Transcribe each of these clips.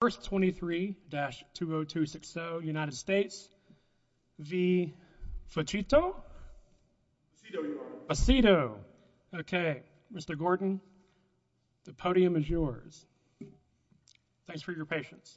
First 23-20260 United States v. Fucito, okay Mr. Gordon, the podium is yours. Thanks for your patience.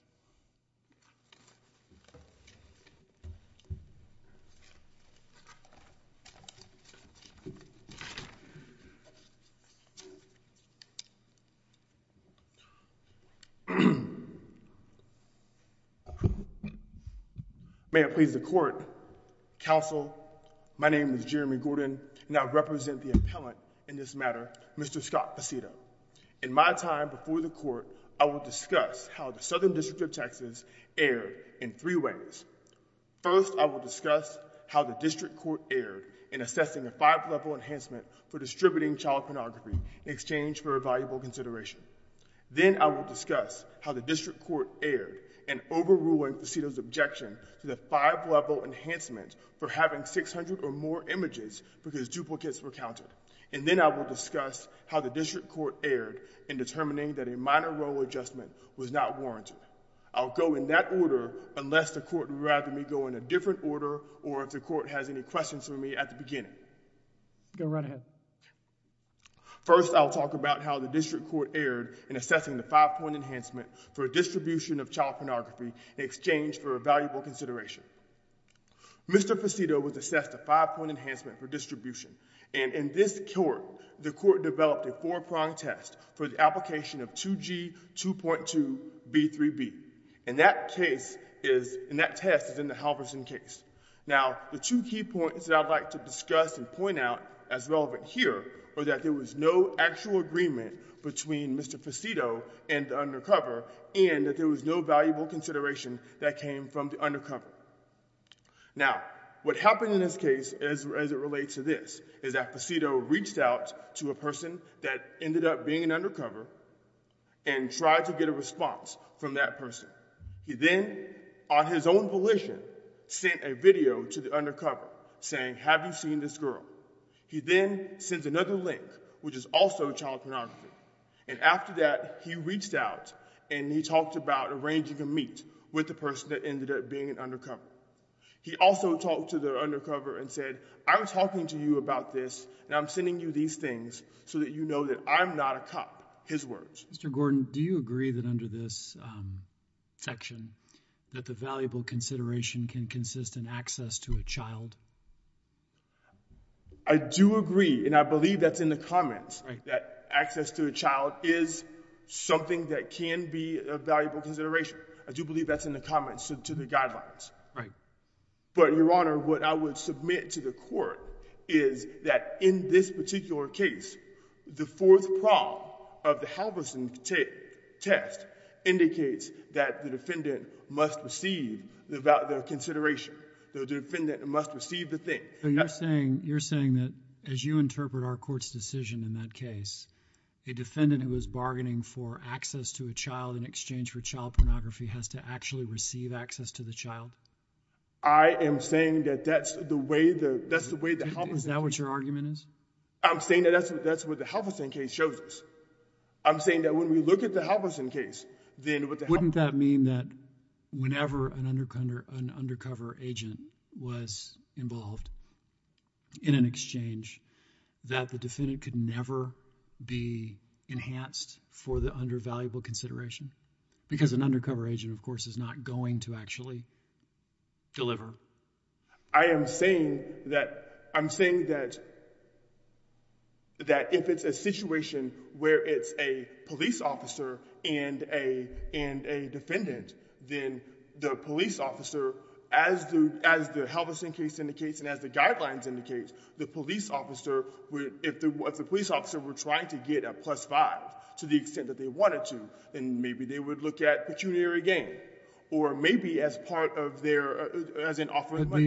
May it please the court, counsel, my name is Jeremy Gordon and I represent the appellant in this matter, Mr. Scott Fucito. In my time before the court, I will discuss how the Southern District of Texas erred in three ways. First, I will discuss how the district court erred in assessing a five-level enhancement for distributing child pornography in exchange for a valuable consideration. Then I will discuss how the district court erred in overruling Fucito's objection to the five-level enhancement for having 600 or more images because duplicates were counted. And then I will discuss how the district court erred in determining that a minor role adjustment was not warranted. I'll go in that order unless the court would rather me go in a different order or if the court has any questions for me at the beginning. Go right ahead. First, I'll talk about how the district court erred in assessing the five-point enhancement for distribution of child pornography in exchange for a valuable consideration. Mr. Fucito was assessed a five-point enhancement for distribution and in this court, the court developed a four-pronged test for the application of 2G 2.2 B3B and that test is in the Halverson case. Now, the two key points that I'd like to discuss and point out as relevant here are that there was no actual agreement between Mr. Fucito and the undercover and that there was no valuable consideration that came from the undercover. Now, what happened in this case as it relates to this is that Fucito reached out to a person that ended up being an undercover and tried to get a response from that person. He then, on his own volition, sent a video to the undercover saying, have you seen this girl? He then sends another link, which is also child pornography and after that, he reached out and he talked about arranging a meet with the person that ended up being an undercover. He also talked to the undercover and said, I'm talking to you about this and I'm sending you these things so that you know that I'm not a cop, his words. Mr. Gordon, do you agree that under this section that the valuable consideration can consist in access to a child? I do agree and I believe that's in the comments that access to a child is something that can be a valuable consideration. I do believe that's in the comments to the guidelines. But Your Honor, what I would submit to the court is that in this particular case, the Halverson test indicates that the defendant must receive the consideration, the defendant must receive the thing. You're saying that, as you interpret our court's decision in that case, a defendant who is bargaining for access to a child in exchange for child pornography has to actually receive access to the child? I am saying that that's the way the Halverson case... Is that what your argument is? I'm saying that that's what the Halverson case shows us. I'm saying that when we look at the Halverson case, then what the Halverson case... Wouldn't that mean that whenever an undercover agent was involved in an exchange, that the defendant could never be enhanced for the undervaluable consideration? Because an undercover agent, of course, is not going to actually deliver. I am saying that if it's a situation where it's a police officer and a defendant, then the police officer, as the Halverson case indicates and as the guidelines indicate, the police officer, if the police officer were trying to get a plus five to the extent that they wanted to, then maybe they would look at pecuniary gain. Or maybe as part of their...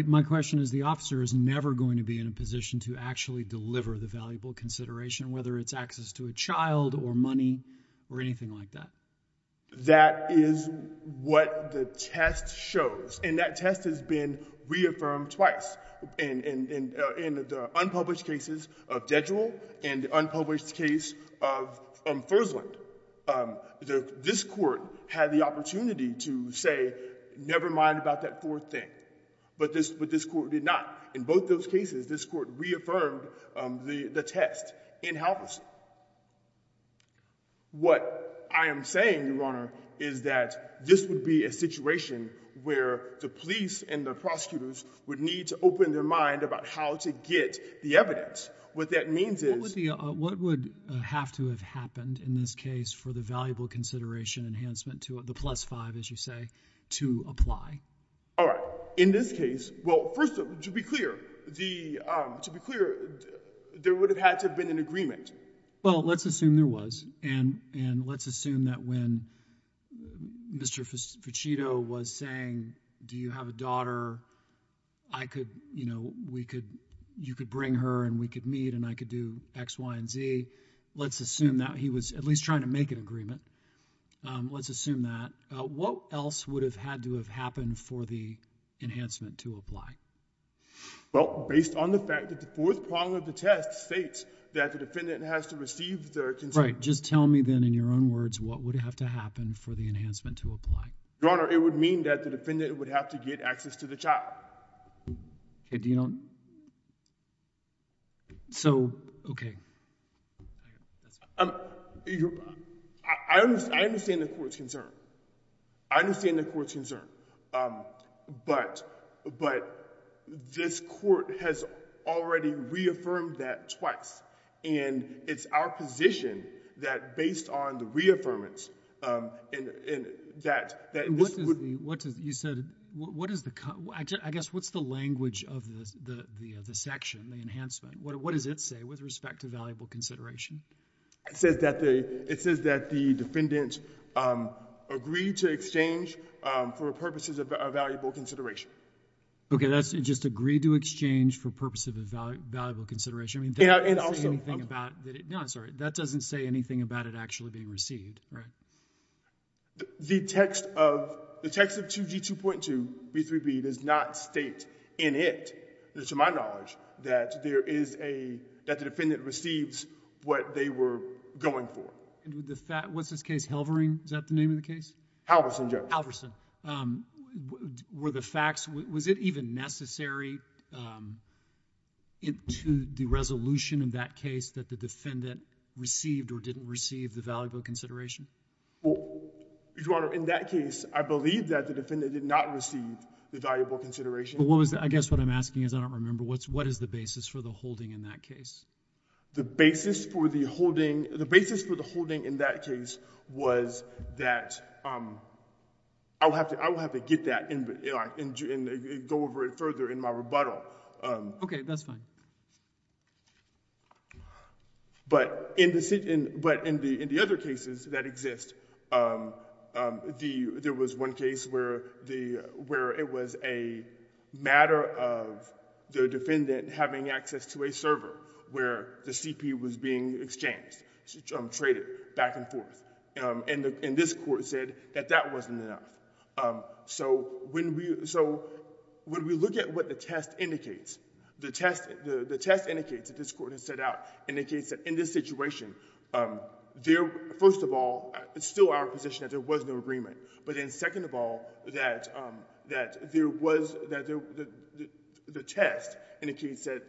My question is, the officer is never going to be in a position to actually deliver the valuable consideration, whether it's access to a child or money or anything like that. That is what the test shows, and that test has been reaffirmed twice in the unpublished cases of Dedual and the unpublished case of Fursland. This court had the opportunity to say, never mind about that fourth thing, but this court did not. In both those cases, this court reaffirmed the test in Halverson. What I am saying, Your Honor, is that this would be a situation where the police and the prosecutors would need to open their mind about how to get the evidence. What that means is... What would have to have happened in this case for the valuable consideration enhancement to the plus five, as you say, to apply? All right. In this case, well, first of all, to be clear, there would have had to have been an agreement. Well, let's assume there was, and let's assume that when Mr. Fichito was saying, Do you have a daughter? I could, you know, we could, you could bring her and we could meet and I could do X, Y, and Z. Let's assume that he was at least trying to make an agreement. Let's assume that. What else would have had to have happened for the enhancement to apply? Well, based on the fact that the fourth prong of the test states that the defendant has to receive the consent... Right. Just tell me then in your own words, what would have to happen for the enhancement to apply? Your Honor, it would mean that the defendant would have to get access to the child. Okay. Do you know? So, okay. I understand the court's concern. I understand the court's concern, but this court has already reaffirmed that twice and it's our position that based on the reaffirmance and that, that this would... What does, you said, what is the, I guess, what's the language of the section, the enhancement? What does it say with respect to valuable consideration? It says that the, it says that the defendant agreed to exchange for purposes of a valuable consideration. Okay. That's just agreed to exchange for purposes of a valuable consideration. I mean, that doesn't say anything about that it, no, I'm sorry. That doesn't say anything about it actually being received, right? The text of, the text of 2G2.2B3B does not state in it, to my knowledge, that there is a, that the defendant receives what they were going for. And with the fact, what's his case, Halvering, is that the name of the case? Halverson, Judge. Halverson. Were the facts, was it even necessary to the resolution in that case that the defendant received or didn't receive the valuable consideration? Well, Your Honor, in that case, I believe that the defendant did not receive the valuable consideration. What was the, I guess what I'm asking is, I don't remember, what's, what is the basis for the holding in that case? The basis for the holding, the basis for the holding in that case was that, I will have to, I will have to get that and go over it further in my rebuttal. Okay, that's fine. But in the other cases that exist, there was one case where the, where it was a matter of the defendant having access to a server where the CP was being exchanged, traded back and forth. And this court said that that wasn't enough. So when we, so when we look at what the test indicates, the test, the test indicates that this court has set out, indicates that in this situation, there, first of all, it's still our position that there was no agreement. But then second of all, that, that there was, that the test indicates that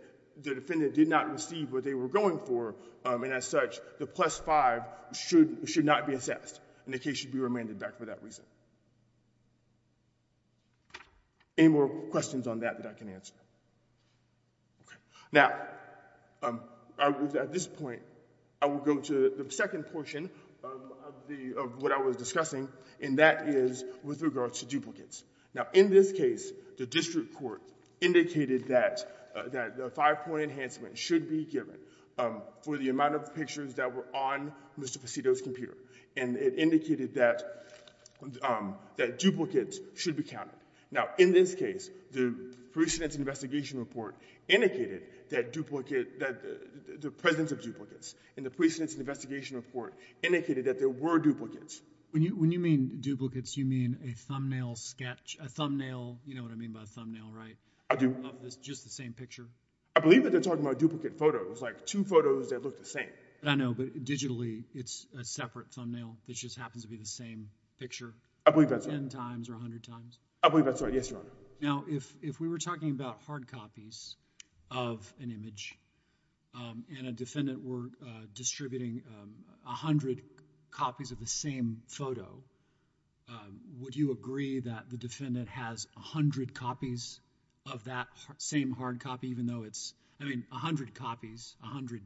the defendant did not receive what they were going for, and as such, the plus five should, should not be assessed. And the case should be remanded back for that reason. Any more questions on that, that I can answer? Okay. Now, I would, at this point, I would go to the second portion of the, of what I was discussing, and that is with regards to duplicates. Now, in this case, the district court indicated that, that the five-point enhancement should be given for the amount of pictures that were on Mr. Facito's computer. And it indicated that, that duplicates should be counted. Now, in this case, the precedence investigation report indicated that duplicate, that the presence of duplicates, and the precedence investigation report indicated that there were duplicates. When you, when you mean duplicates, you mean a thumbnail sketch, a thumbnail, you know what I mean by a thumbnail, right? I do. Of this, just the same picture? I believe that they're talking about duplicate photos, like two photos that look the same. I know, but digitally, it's a separate thumbnail that just happens to be the same picture. I believe that's right. Ten times or a hundred times? I believe that's right. Yes, Your Honor. Now, if, if we were talking about hard copies of an image, and a defendant were distributing a hundred copies of the same photo, would you agree that the defendant has a hundred copies of that same hard copy, even though it's, I mean, a hundred copies, a hundred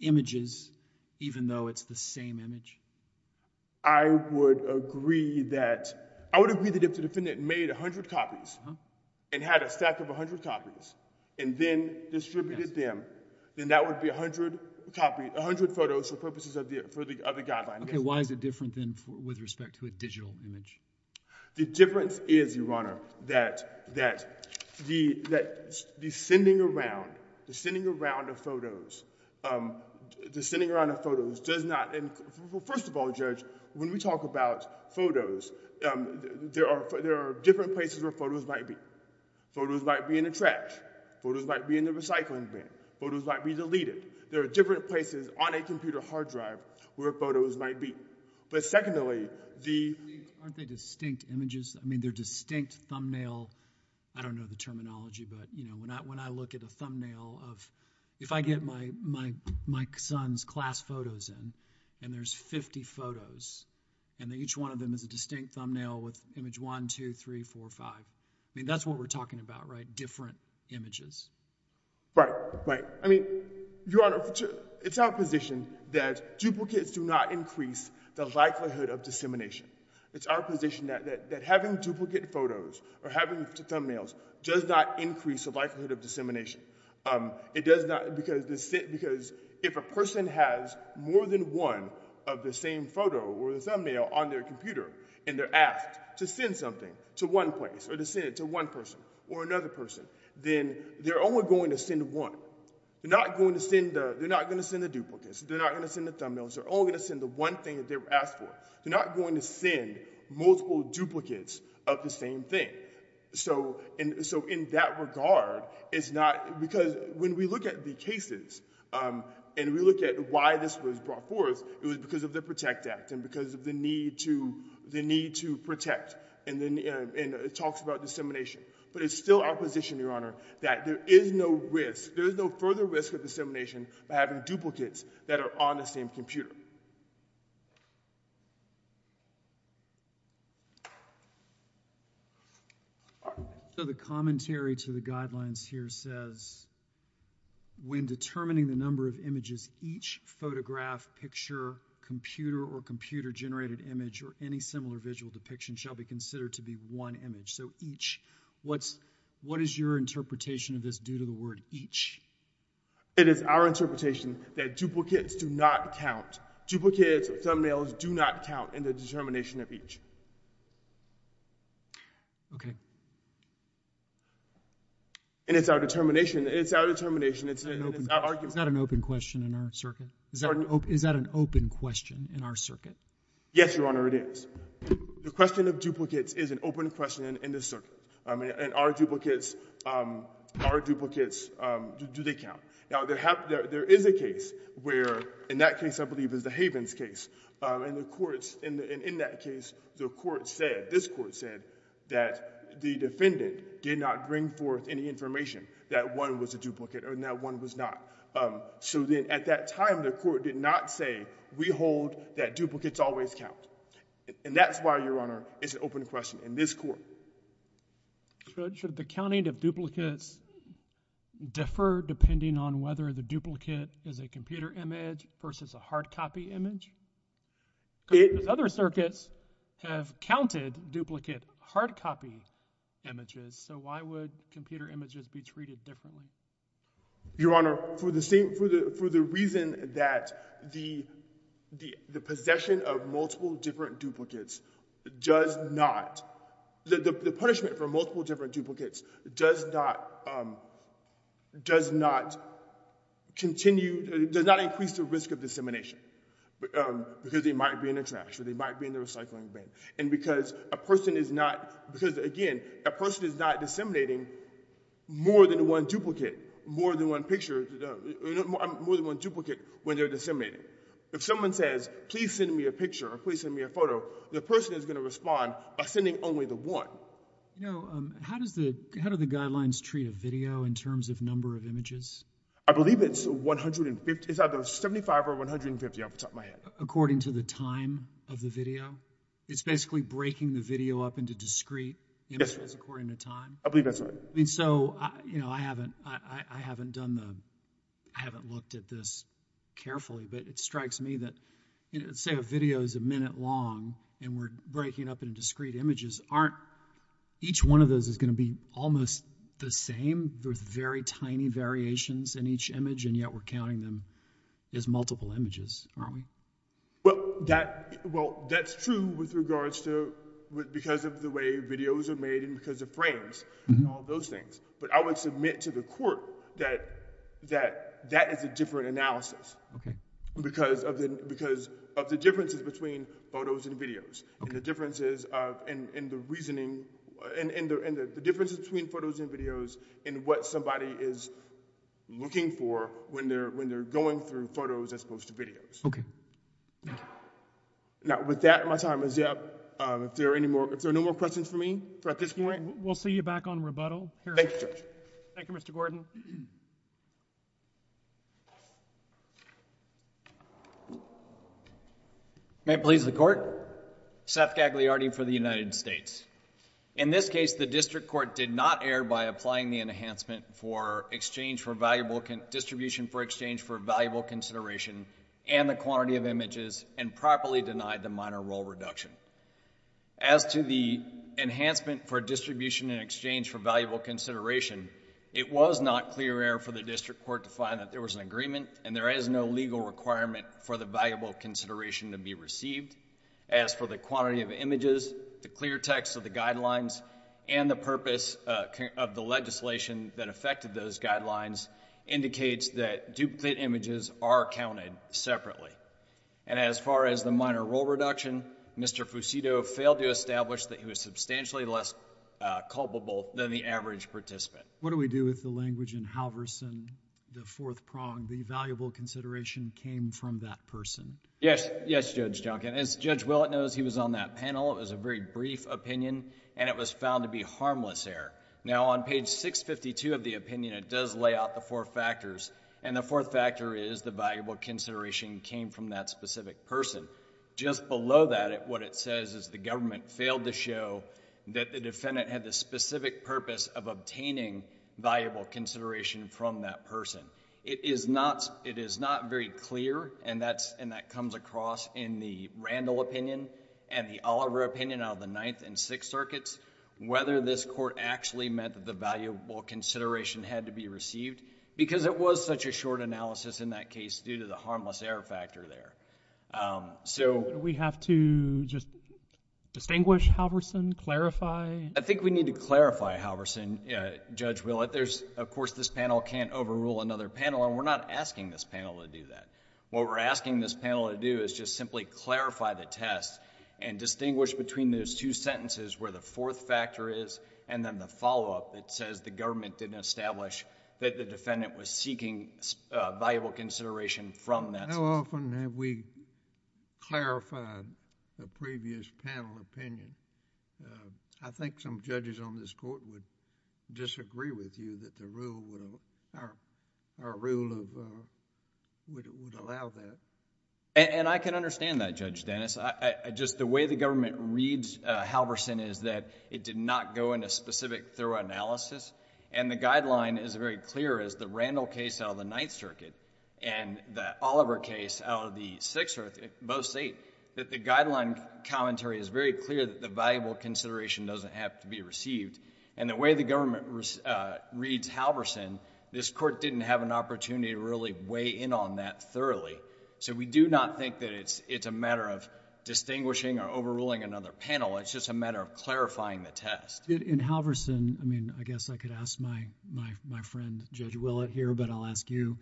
images, even though it's the same image? I would agree that, I would agree that if the defendant made a hundred copies, and had a stack of a hundred copies, and then distributed them, then that would be a hundred copies, a hundred photos for purposes of the, for the, of the guideline. Okay, why is it different than, with respect to a digital image? The difference is, Your Honor, that, that the, that the sending around, the sending around of photos, um, the sending around of photos does not, and first of all, Judge, when we talk about photos, um, there are, there are different places where photos might be. Photos might be in the trash. Photos might be in the recycling bin. Photos might be deleted. There are different places on a computer hard drive where photos might be. But secondly, the… Aren't they distinct images? I mean, they're distinct thumbnail, I don't know the terminology, but you know, when I, when I look at a thumbnail of, if I get my, my, my son's class photos in, and there's 50 photos, and each one of them is a distinct thumbnail with image 1, 2, 3, 4, 5, I mean, that's what we're talking about, right? Different images. Right, right. So, I mean, Your Honor, it's our position that duplicates do not increase the likelihood of dissemination. It's our position that, that, that having duplicate photos or having thumbnails does not increase the likelihood of dissemination, um, it does not, because, because if a person has more than one of the same photo or the thumbnail on their computer and they're asked to send something to one place or to send it to one person or another person, then they're only going to send one. They're not going to send the, they're not going to send the duplicates, they're not going to send the thumbnails, they're only going to send the one thing that they're asked for. They're not going to send multiple duplicates of the same thing. So, and so in that regard, it's not, because when we look at the cases, um, and we look at why this was brought forth, it was because of the PROTECT Act and because of the need to, the need to protect and then, and it talks about dissemination. But it's still our position, Your Honor, that there is no risk, there is no further risk of dissemination by having duplicates that are on the same computer. So the commentary to the guidelines here says, when determining the number of images, each photograph, picture, computer or computer generated image or any similar visual depiction shall be considered to be one image. So each, what's, what is your interpretation of this due to the word each? It is our interpretation that duplicates do not count. Duplicates of thumbnails do not count in the determination of each. Okay. And it's our determination, it's our determination, it's our argument. Is that an open question in our circuit? Is that an open question in our circuit? Yes, Your Honor, it is. The question of duplicates is an open question in this circuit. And are duplicates, are duplicates, do they count? Now, there is a case where, in that case I believe is the Havens case, and the courts, in that case, the court said, this court said that the defendant did not bring forth any information that one was a duplicate or that one was not. So then at that time, the court did not say, we hold that duplicates always count. And that's why, Your Honor, it's an open question in this court. Should, should the counting of duplicates differ depending on whether the duplicate is a computer image versus a hard copy image? Because other circuits have counted duplicate hard copy images, so why would computer images be treated differently? Your Honor, for the same, for the, for the reason that the, the, the possession of multiple different duplicates does not, the, the punishment for multiple different duplicates does not, does not continue, does not increase the risk of dissemination. Because they might be in the trash, or they might be in the recycling bin. And because a person is not, because again, a person is not disseminating more than one duplicate, more than one picture, more than one duplicate when they're disseminating. If someone says, please send me a picture or please send me a photo, the person is going to respond by sending only the one. You know, how does the, how do the guidelines treat a video in terms of number of images? I believe it's 150, it's either 75 or 150 off the top of my head. According to the time of the video? It's basically breaking the video up into discrete images according to time? I believe that's right. I mean, so, you know, I haven't, I haven't done the, I haven't looked at this carefully, but it strikes me that, you know, say a video is a minute long and we're breaking it up into discrete images, aren't, each one of those is going to be almost the same with very tiny variations in each image and yet we're counting them as multiple images, aren't we? Well, that, well, that's true with regards to, because of the way videos are made and because of frames and all those things. But I would submit to the court that, that, that is a different analysis. Okay. Because of the, because of the differences between photos and videos. Okay. And the differences of, and the reasoning, and the, and the differences between photos and videos and what somebody is looking for when they're, when they're going through photos as opposed to videos. Okay. Now, with that, my time is up. If there are any more, if there are no more questions for me at this point. We'll see you back on rebuttal. Thank you, Judge. Thank you, Mr. Gordon. May it please the court. Seth Gagliardi for the United States. In this case, the district court did not err by applying the enhancement for exchange for valuable, distribution for exchange for valuable consideration and the quantity of images and properly denied the minor role reduction. As to the enhancement for distribution in exchange for valuable consideration, it was not clear error for the district court to find that there was an agreement and there is no legal requirement for the valuable consideration to be received. As for the quantity of images, the clear text of the guidelines and the purpose of the legislation that affected those guidelines indicates that there was an agreement. As far as the minor role reduction, Mr. Fusito failed to establish that he was substantially less culpable than the average participant. What do we do with the language in Halverson, the fourth prong, the valuable consideration came from that person? Yes, Judge Junkin. As Judge Willett knows, he was on that panel. It was a very brief opinion and it was found to be harmless error. Now, on page 652 of the opinion, it does lay out the four factors. The fourth factor is the valuable consideration came from that specific person. Just below that, what it says is the government failed to show that the defendant had the specific purpose of obtaining valuable consideration from that person. It is not very clear, and that comes across in the Randall opinion and the Oliver opinion out of the Ninth and Sixth Circuits, whether this court actually meant that the valuable consideration had to be received because it was such a short analysis in that case due to the harmless error factor there. So... Do we have to just distinguish Halverson, clarify? I think we need to clarify Halverson, Judge Willett. Of course, this panel can't overrule another panel and we're not asking this panel to do that. What we're asking this panel to do is just simply clarify the test and distinguish between those two sentences where the fourth factor is and then the follow-up that says the government didn't establish that the defendant was seeking valuable consideration from that... How often have we clarified the previous panel opinion? I think some judges on this court would disagree with you that the rule would... our rule of... would allow that. I can understand that, Judge Dennis. I just... the way the government reads Halverson is that it did not go into specific thorough analysis and the guideline is very clear as the Randall case out of the Ninth Circuit and the Oliver case out of the Sixth Circuit, both state, that the guideline commentary is very clear that the valuable consideration doesn't have to be received and the way the government reads Halverson, this court didn't have an opportunity to really weigh in on that thoroughly. We do not think that it's a matter of distinguishing or overruling another panel. It's just a matter of clarifying the test. In Halverson, I mean, I guess I could ask my friend, Judge Willett, here, but I'll ask you,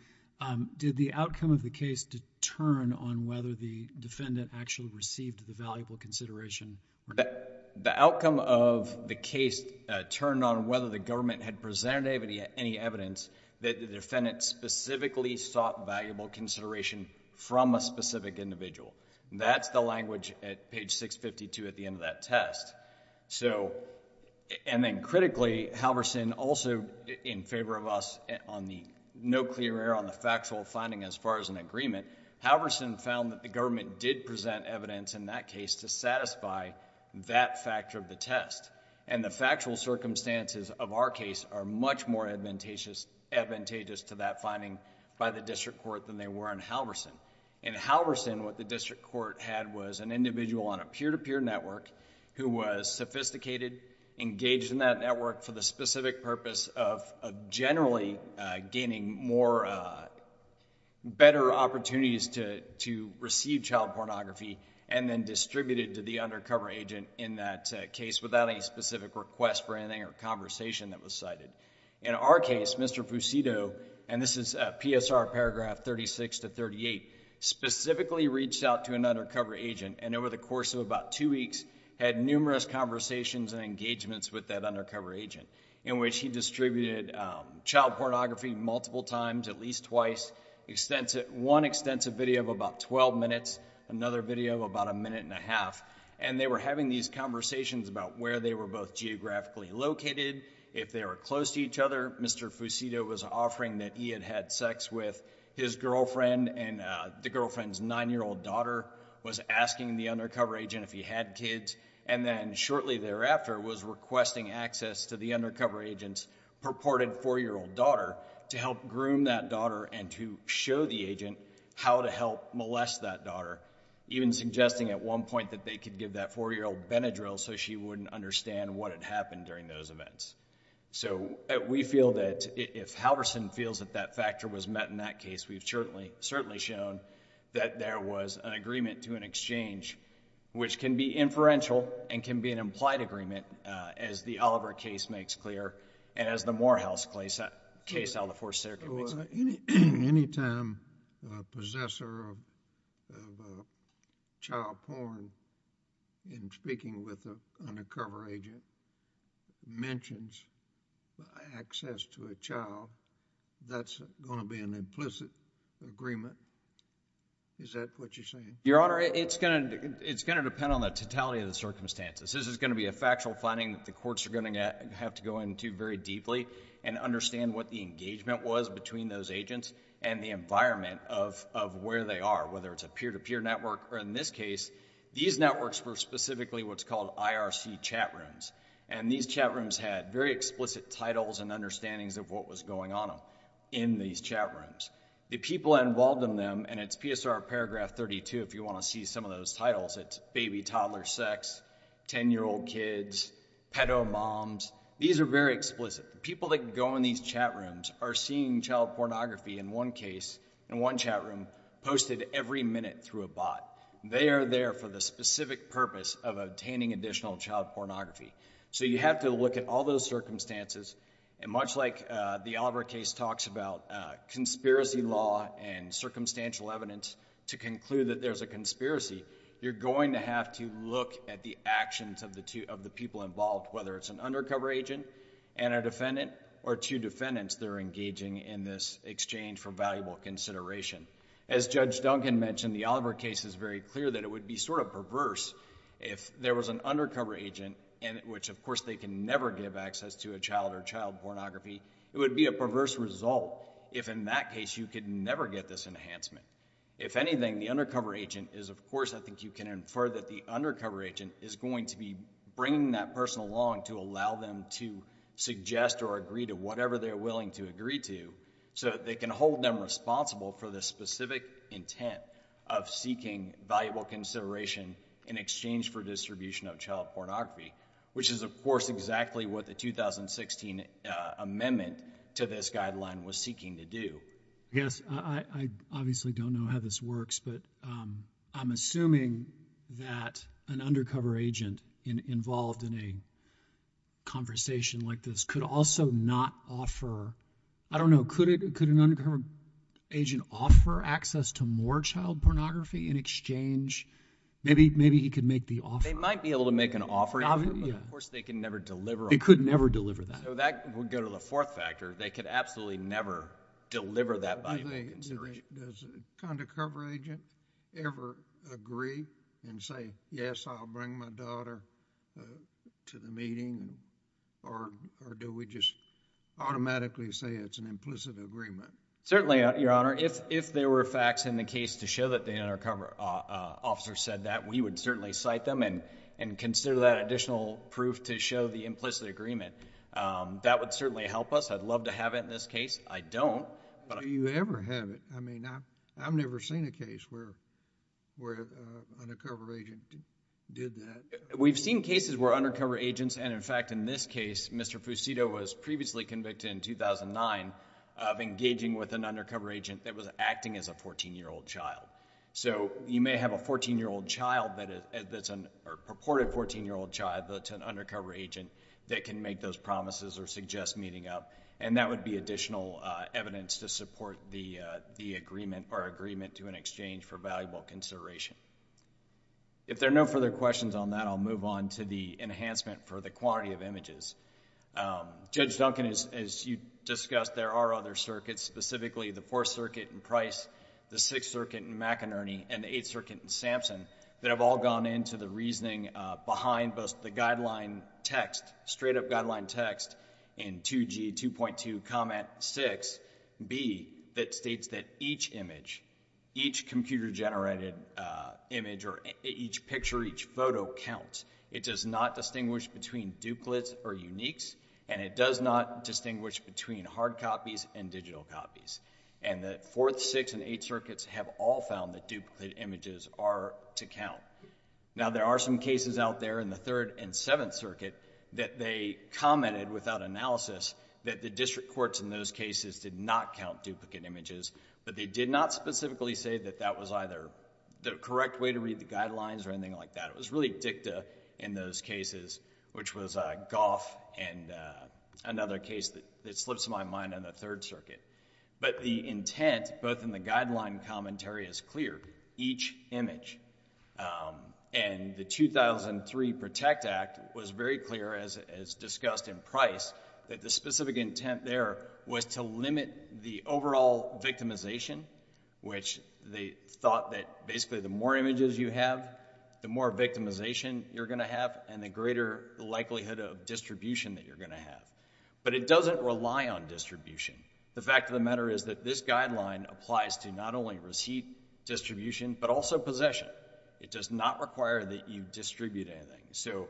did the outcome of the case determine on whether the defendant actually received the valuable consideration? The outcome of the case turned on whether the government had presented any evidence that the defendant specifically sought valuable consideration from a specific individual. That's the language at page 652 at the end of that test. Then critically, Halverson also in favor of us on the no clear error on the factual finding as far as an agreement, Halverson found that the government did present evidence in that case to satisfy that factor of the test and the factual circumstances of our case are much more advantageous to that finding by the district court than they were in Halverson. In Halverson, what the district court had was an individual on a peer-to-peer network who was sophisticated, engaged in that network for the specific purpose of generally gaining better opportunities to receive child pornography and then distributed to the undercover agent in that case without any specific request for anything or conversation that was cited. In our case, Mr. Fusito, and this is PSR paragraph 36 to 38, specifically reached out to an undercover agent and over the course of about two weeks had numerous conversations and engagements with that undercover agent in which he distributed child pornography multiple times, at least twice, one extensive video of about twelve minutes, another video of about a minute and a half, and they were having these conversations about where they were both geographically located, if they were close to each other, Mr. Fusito was offering that he had had sex with his girlfriend and the girlfriend's nine-year-old daughter was asking the undercover agent if he had kids and then shortly thereafter was requesting access to the undercover agent's purported four-year-old daughter to help groom that daughter and to show the agent how to help molest that daughter, even suggesting at one point that they could give that four-year-old Ben a drill so she wouldn't understand what had happened during those events. We feel that if Halverson feels that that factor was met in that case, we've certainly shown that there was an agreement to an exchange which can be inferential and can be an implied agreement as the Oliver case makes clear and as the Morehouse case out of the Fourth Circuit makes... Any time a possessor of child porn in speaking with an undercover agent mentions access to a child, that's going to be an implicit agreement? Is that what you're saying? Your Honor, it's going to depend on the totality of the circumstances. This is going to be a factual finding that the courts are going to have to go into very deeply and understand what the engagement was between those agents and the environment of where they are, whether it's a peer-to-peer network or in this case, these networks were specifically what's called IRC chat rooms. These chat rooms had very explicit titles and understandings of what was going on in these chat rooms. The people involved in them, and it's PSR paragraph 32 if you want to see some of those titles, it's baby, toddler, sex, ten-year-old kids, pedo-moms. These are very explicit. People that go in these chat rooms are seeing child pornography in one case, in one chat room, posted every minute through a bot. They are there for the specific purpose of obtaining additional child pornography. So you have to look at all those circumstances and much like the Albrecht case talks about conspiracy law and circumstantial evidence to conclude that there's a conspiracy, you're going to have to look at the actions of the people involved, whether it's an undercover agent and a defendant or two defendants that are engaging in this exchange for valuable consideration. As Judge Duncan mentioned, the Albrecht case is very clear that it would be sort of perverse if there was an undercover agent, which of course they can never give access to a child or child pornography, it would be a perverse result if in that case you could never get this enhancement. If anything, the undercover agent is of course, I think you can infer that the allow them to suggest or agree to whatever they're willing to agree to, so they can hold them responsible for the specific intent of seeking valuable consideration in exchange for distribution of child pornography, which is of course exactly what the 2016 amendment to this guideline was seeking to do. Yes. I obviously don't know how this works, but I'm assuming that an conversation like this could also not offer, I don't know, could an undercover agent offer access to more child pornography in exchange, maybe he could make the offer. They might be able to make an offer, but of course they can never deliver on that. They could never deliver that. So that would go to the fourth factor, they could absolutely never deliver that valuable consideration. Does the undercover agent ever agree and say, yes, I'll bring my daughter to the meeting, or do we just automatically say it's an implicit agreement? Certainly, Your Honor. If there were facts in the case to show that the undercover officer said that, we would certainly cite them and consider that additional proof to show the implicit agreement. That would certainly help us. I'd love to have it in this case. I don't. Do you ever have it? I mean, I've never seen a case where an undercover agent did that. We've seen cases where undercover agents, and in fact in this case, Mr. Fusito was previously convicted in 2009 of engaging with an undercover agent that was acting as a fourteen-year-old child. So you may have a fourteen-year-old child that's a purported fourteen-year-old child that's an undercover agent that can make those promises or suggest meeting up, and that would be additional evidence to support the agreement or agreement to an exchange for valuable consideration. If there are no further questions on that, I'll move on to the enhancement for the quantity of images. Judge Duncan, as you discussed, there are other circuits, specifically the Fourth Circuit in Price, the Sixth Circuit in McInerney, and the Eighth Circuit in Sampson that have all gone into the reasoning behind both the guideline text, straight-up guideline text in 2G 2.2 comment 6B that states that each image, each computer-generated image or each picture, each photo counts. It does not distinguish between duplicates or uniques, and it does not distinguish between hard copies and digital copies. And the Fourth, Sixth, and Eighth Circuits have all found that duplicate images are to count. Now there are some cases out there in the Third and Seventh Circuit that they commented without analysis that the district courts in those cases did not count duplicate images, but they did not specifically say that that was either the correct way to read the guidelines or anything like that. It was really dicta in those cases, which was Goff and another case that slips my mind on the Third Circuit. But the intent both in the guideline commentary is clear. Each image, and the 2003 Protect Act was very clear, as discussed in Price, that the specific intent there was to limit the overall victimization, which they thought that basically the more images you have, the more victimization you're going to have, and the greater likelihood of distribution that you're going to have. But it doesn't rely on distribution. The fact of the matter is that this guideline applies to not only receipt distribution, but also possession. It does not require that you distribute anything. So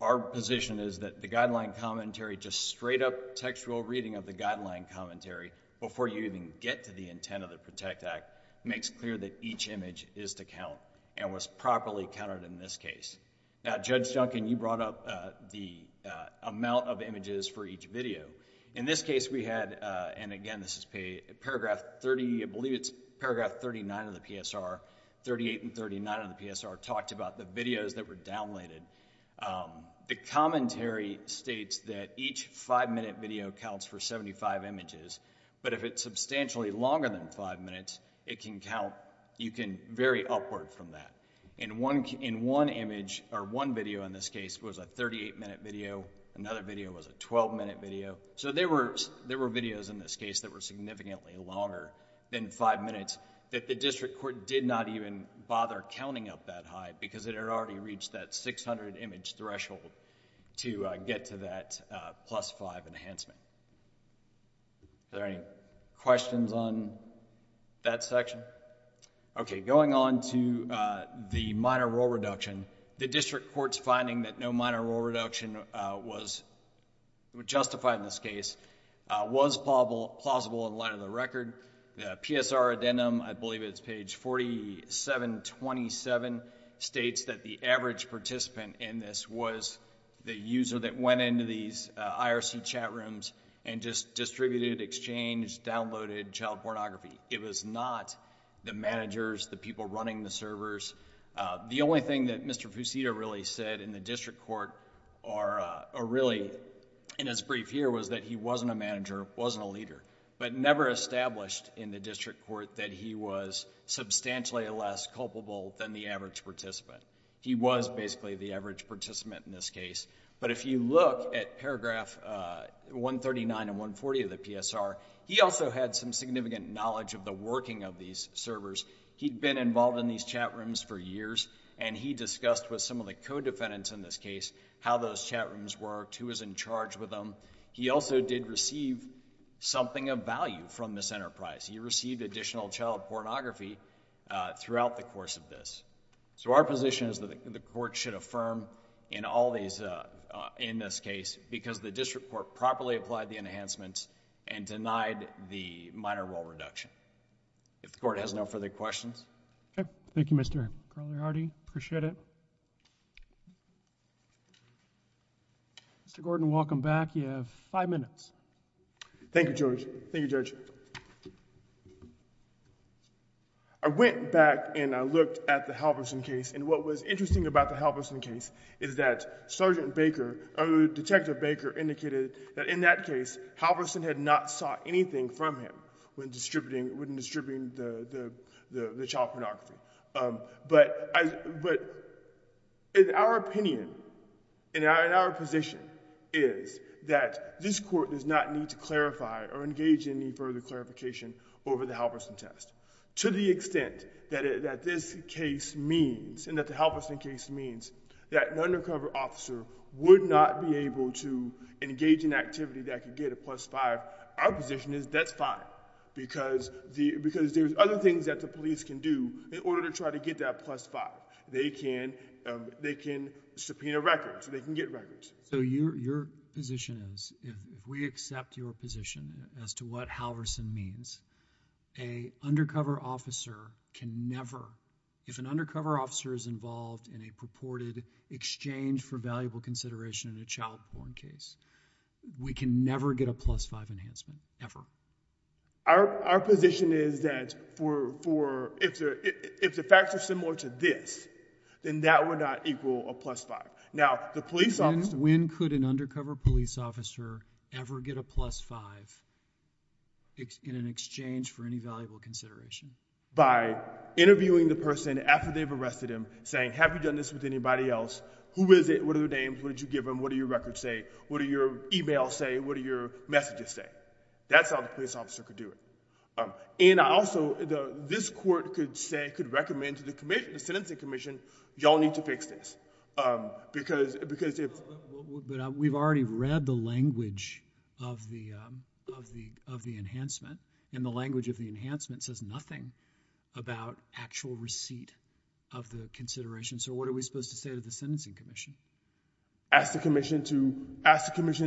our position is that the guideline commentary, just straight up textual reading of the guideline commentary before you even get to the intent of the Protect Act, makes clear that each image is to count and was properly counted in this case. Now Judge Duncan, you brought up the amount of images for each video. In this case we had, and again this is paragraph 30, I believe it's paragraph 39 of the PSR, 38 and 39 of the PSR, talked about the videos that were downloaded. The commentary states that each five-minute video counts for 75 images. But if it's substantially longer than five minutes, it can count, you can vary upward from that. In one image, or one video in this case, was a 38-minute video. Another video was a 12-minute video. So there were videos in this case that were significantly longer than five minutes that the district court did not even bother counting up that high because it had already reached that 600 image threshold to get to that plus five enhancement. Are there any questions on that section? Okay, going on to the minor rule reduction, the district court's finding that no minor rule reduction was justified in this case was plausible in light of the record. The PSR addendum, I believe it's page 4727, states that the average participant in this was the user that went into these IRC chat rooms and just distributed, exchanged, downloaded child pornography. The only thing that Mr. Fusito really said in the district court or really in his brief here was that he wasn't a manager, wasn't a leader, but never established in the district court that he was substantially less culpable than the average participant. He was basically the average participant in this case. But if you look at paragraph 139 and 140 of the PSR, he also had some significant knowledge of the working of these servers. He'd been involved in these chat rooms for years and he discussed with some of the co-defendants in this case how those chat rooms worked, who was in charge with them. He also did receive something of value from this enterprise. He received additional child pornography throughout the course of this. Our position is that the court should affirm in all these... in this case because the district court properly applied the enhancements and denied the minor rule reduction. If the court has no further questions. Okay. Thank you, Mr. Carliardi. Appreciate it. Mr. Gordon, welcome back. You have five minutes. Thank you, Judge. Thank you, Judge. I went back and I looked at the Halverson case and what was interesting about the Halverson case is that Sergeant Baker... Detective Baker indicated that in that case, Halverson had not sought anything from him when distributing... when distributing the child pornography. But in our opinion, in our position is that this court does not need to clarify or engage in any further clarification over the Halverson test. To the extent that this case means and that the Halverson case means that an undercover officer would not be able to engage in activity that could get a plus five. Our position is that's fine because there's other things that the police can do in order to try to get that plus five. They can subpoena records. They can get records. So your position is, if we accept your position as to what Halverson means, a undercover officer can never... if an undercover officer is involved in a purported exchange for valuable consideration in a child porn case, we can never get a plus five enhancement, ever. Our position is that for... if the facts are similar to this, then that would not equal a plus five. Now the police officer... When could an undercover police officer ever get a plus five in an exchange for any valuable consideration? By interviewing the person after they've arrested him, saying, have you done this with anybody else? Who is it? What are their names? What did you give them? What do your records say? What do your e-mails say? What do your messages say? That's how the police officer could do it. And also, this court could say, could recommend to the commission, the sentencing commission, y'all need to fix this because... But we've already read the language of the enhancement, and the language of the enhancement says nothing about actual receipt of the consideration. So what are we supposed to say to the sentencing commission? Ask the commission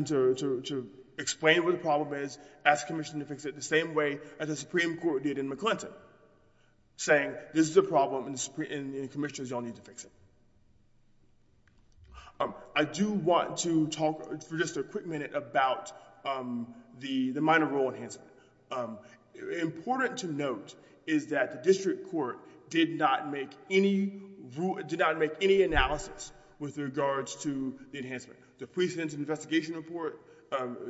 to explain what the problem is, ask the commission to fix it the same way as the Supreme Court did in McClinton, saying this is a problem and the commissioners, y'all need to fix it. I do want to talk for just a quick minute about the minor rule enhancement. Important to note is that the district court did not make any... did not give any analysis with regards to the enhancement. The police sent an investigation report,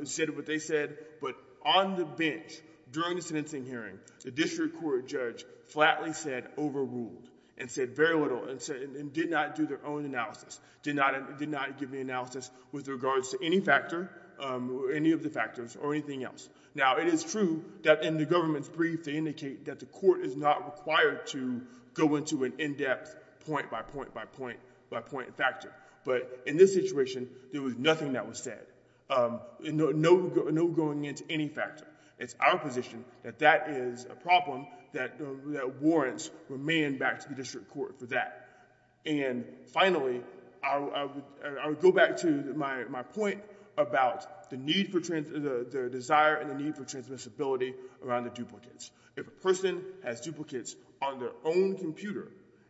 said what they said, but on the bench during the sentencing hearing, the district court judge flatly said overruled and said very little and did not do their own analysis, did not give any analysis with regards to any factor, any of the factors or anything else. Now it is true that in the government's brief, they indicate that the court is not required to go into an in-depth point by point by point by point by point by point by point by point by point by point by point by point by point by point. But in this situation, there was nothing that was said. No going into any factor. It's our position that that is a problem that warrants remand back to the district court for that. And finally, I would go back to my point about the need for... the desire and the need for transmissibility around the duplicates. If a person has duplicates on their own computer,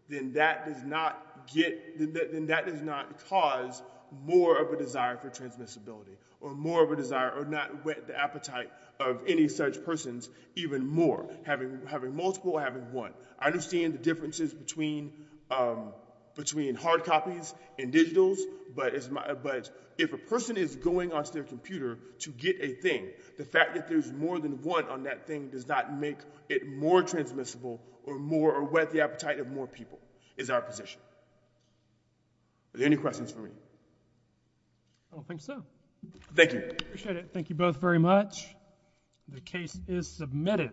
then that does not get... then that does not cause more of a desire for transmissibility or more of a desire or not whet the appetite of any such persons even more. Having multiple or having one. I understand the differences between hard copies and digitals, but if a person is going onto their computer to get a thing, the fact that there's more than that thing does not make it more transmissible or more or whet the appetite of more people is our position. Are there any questions for me? I don't think so. Thank you. I appreciate it. Thank you both very much. The case is submitted.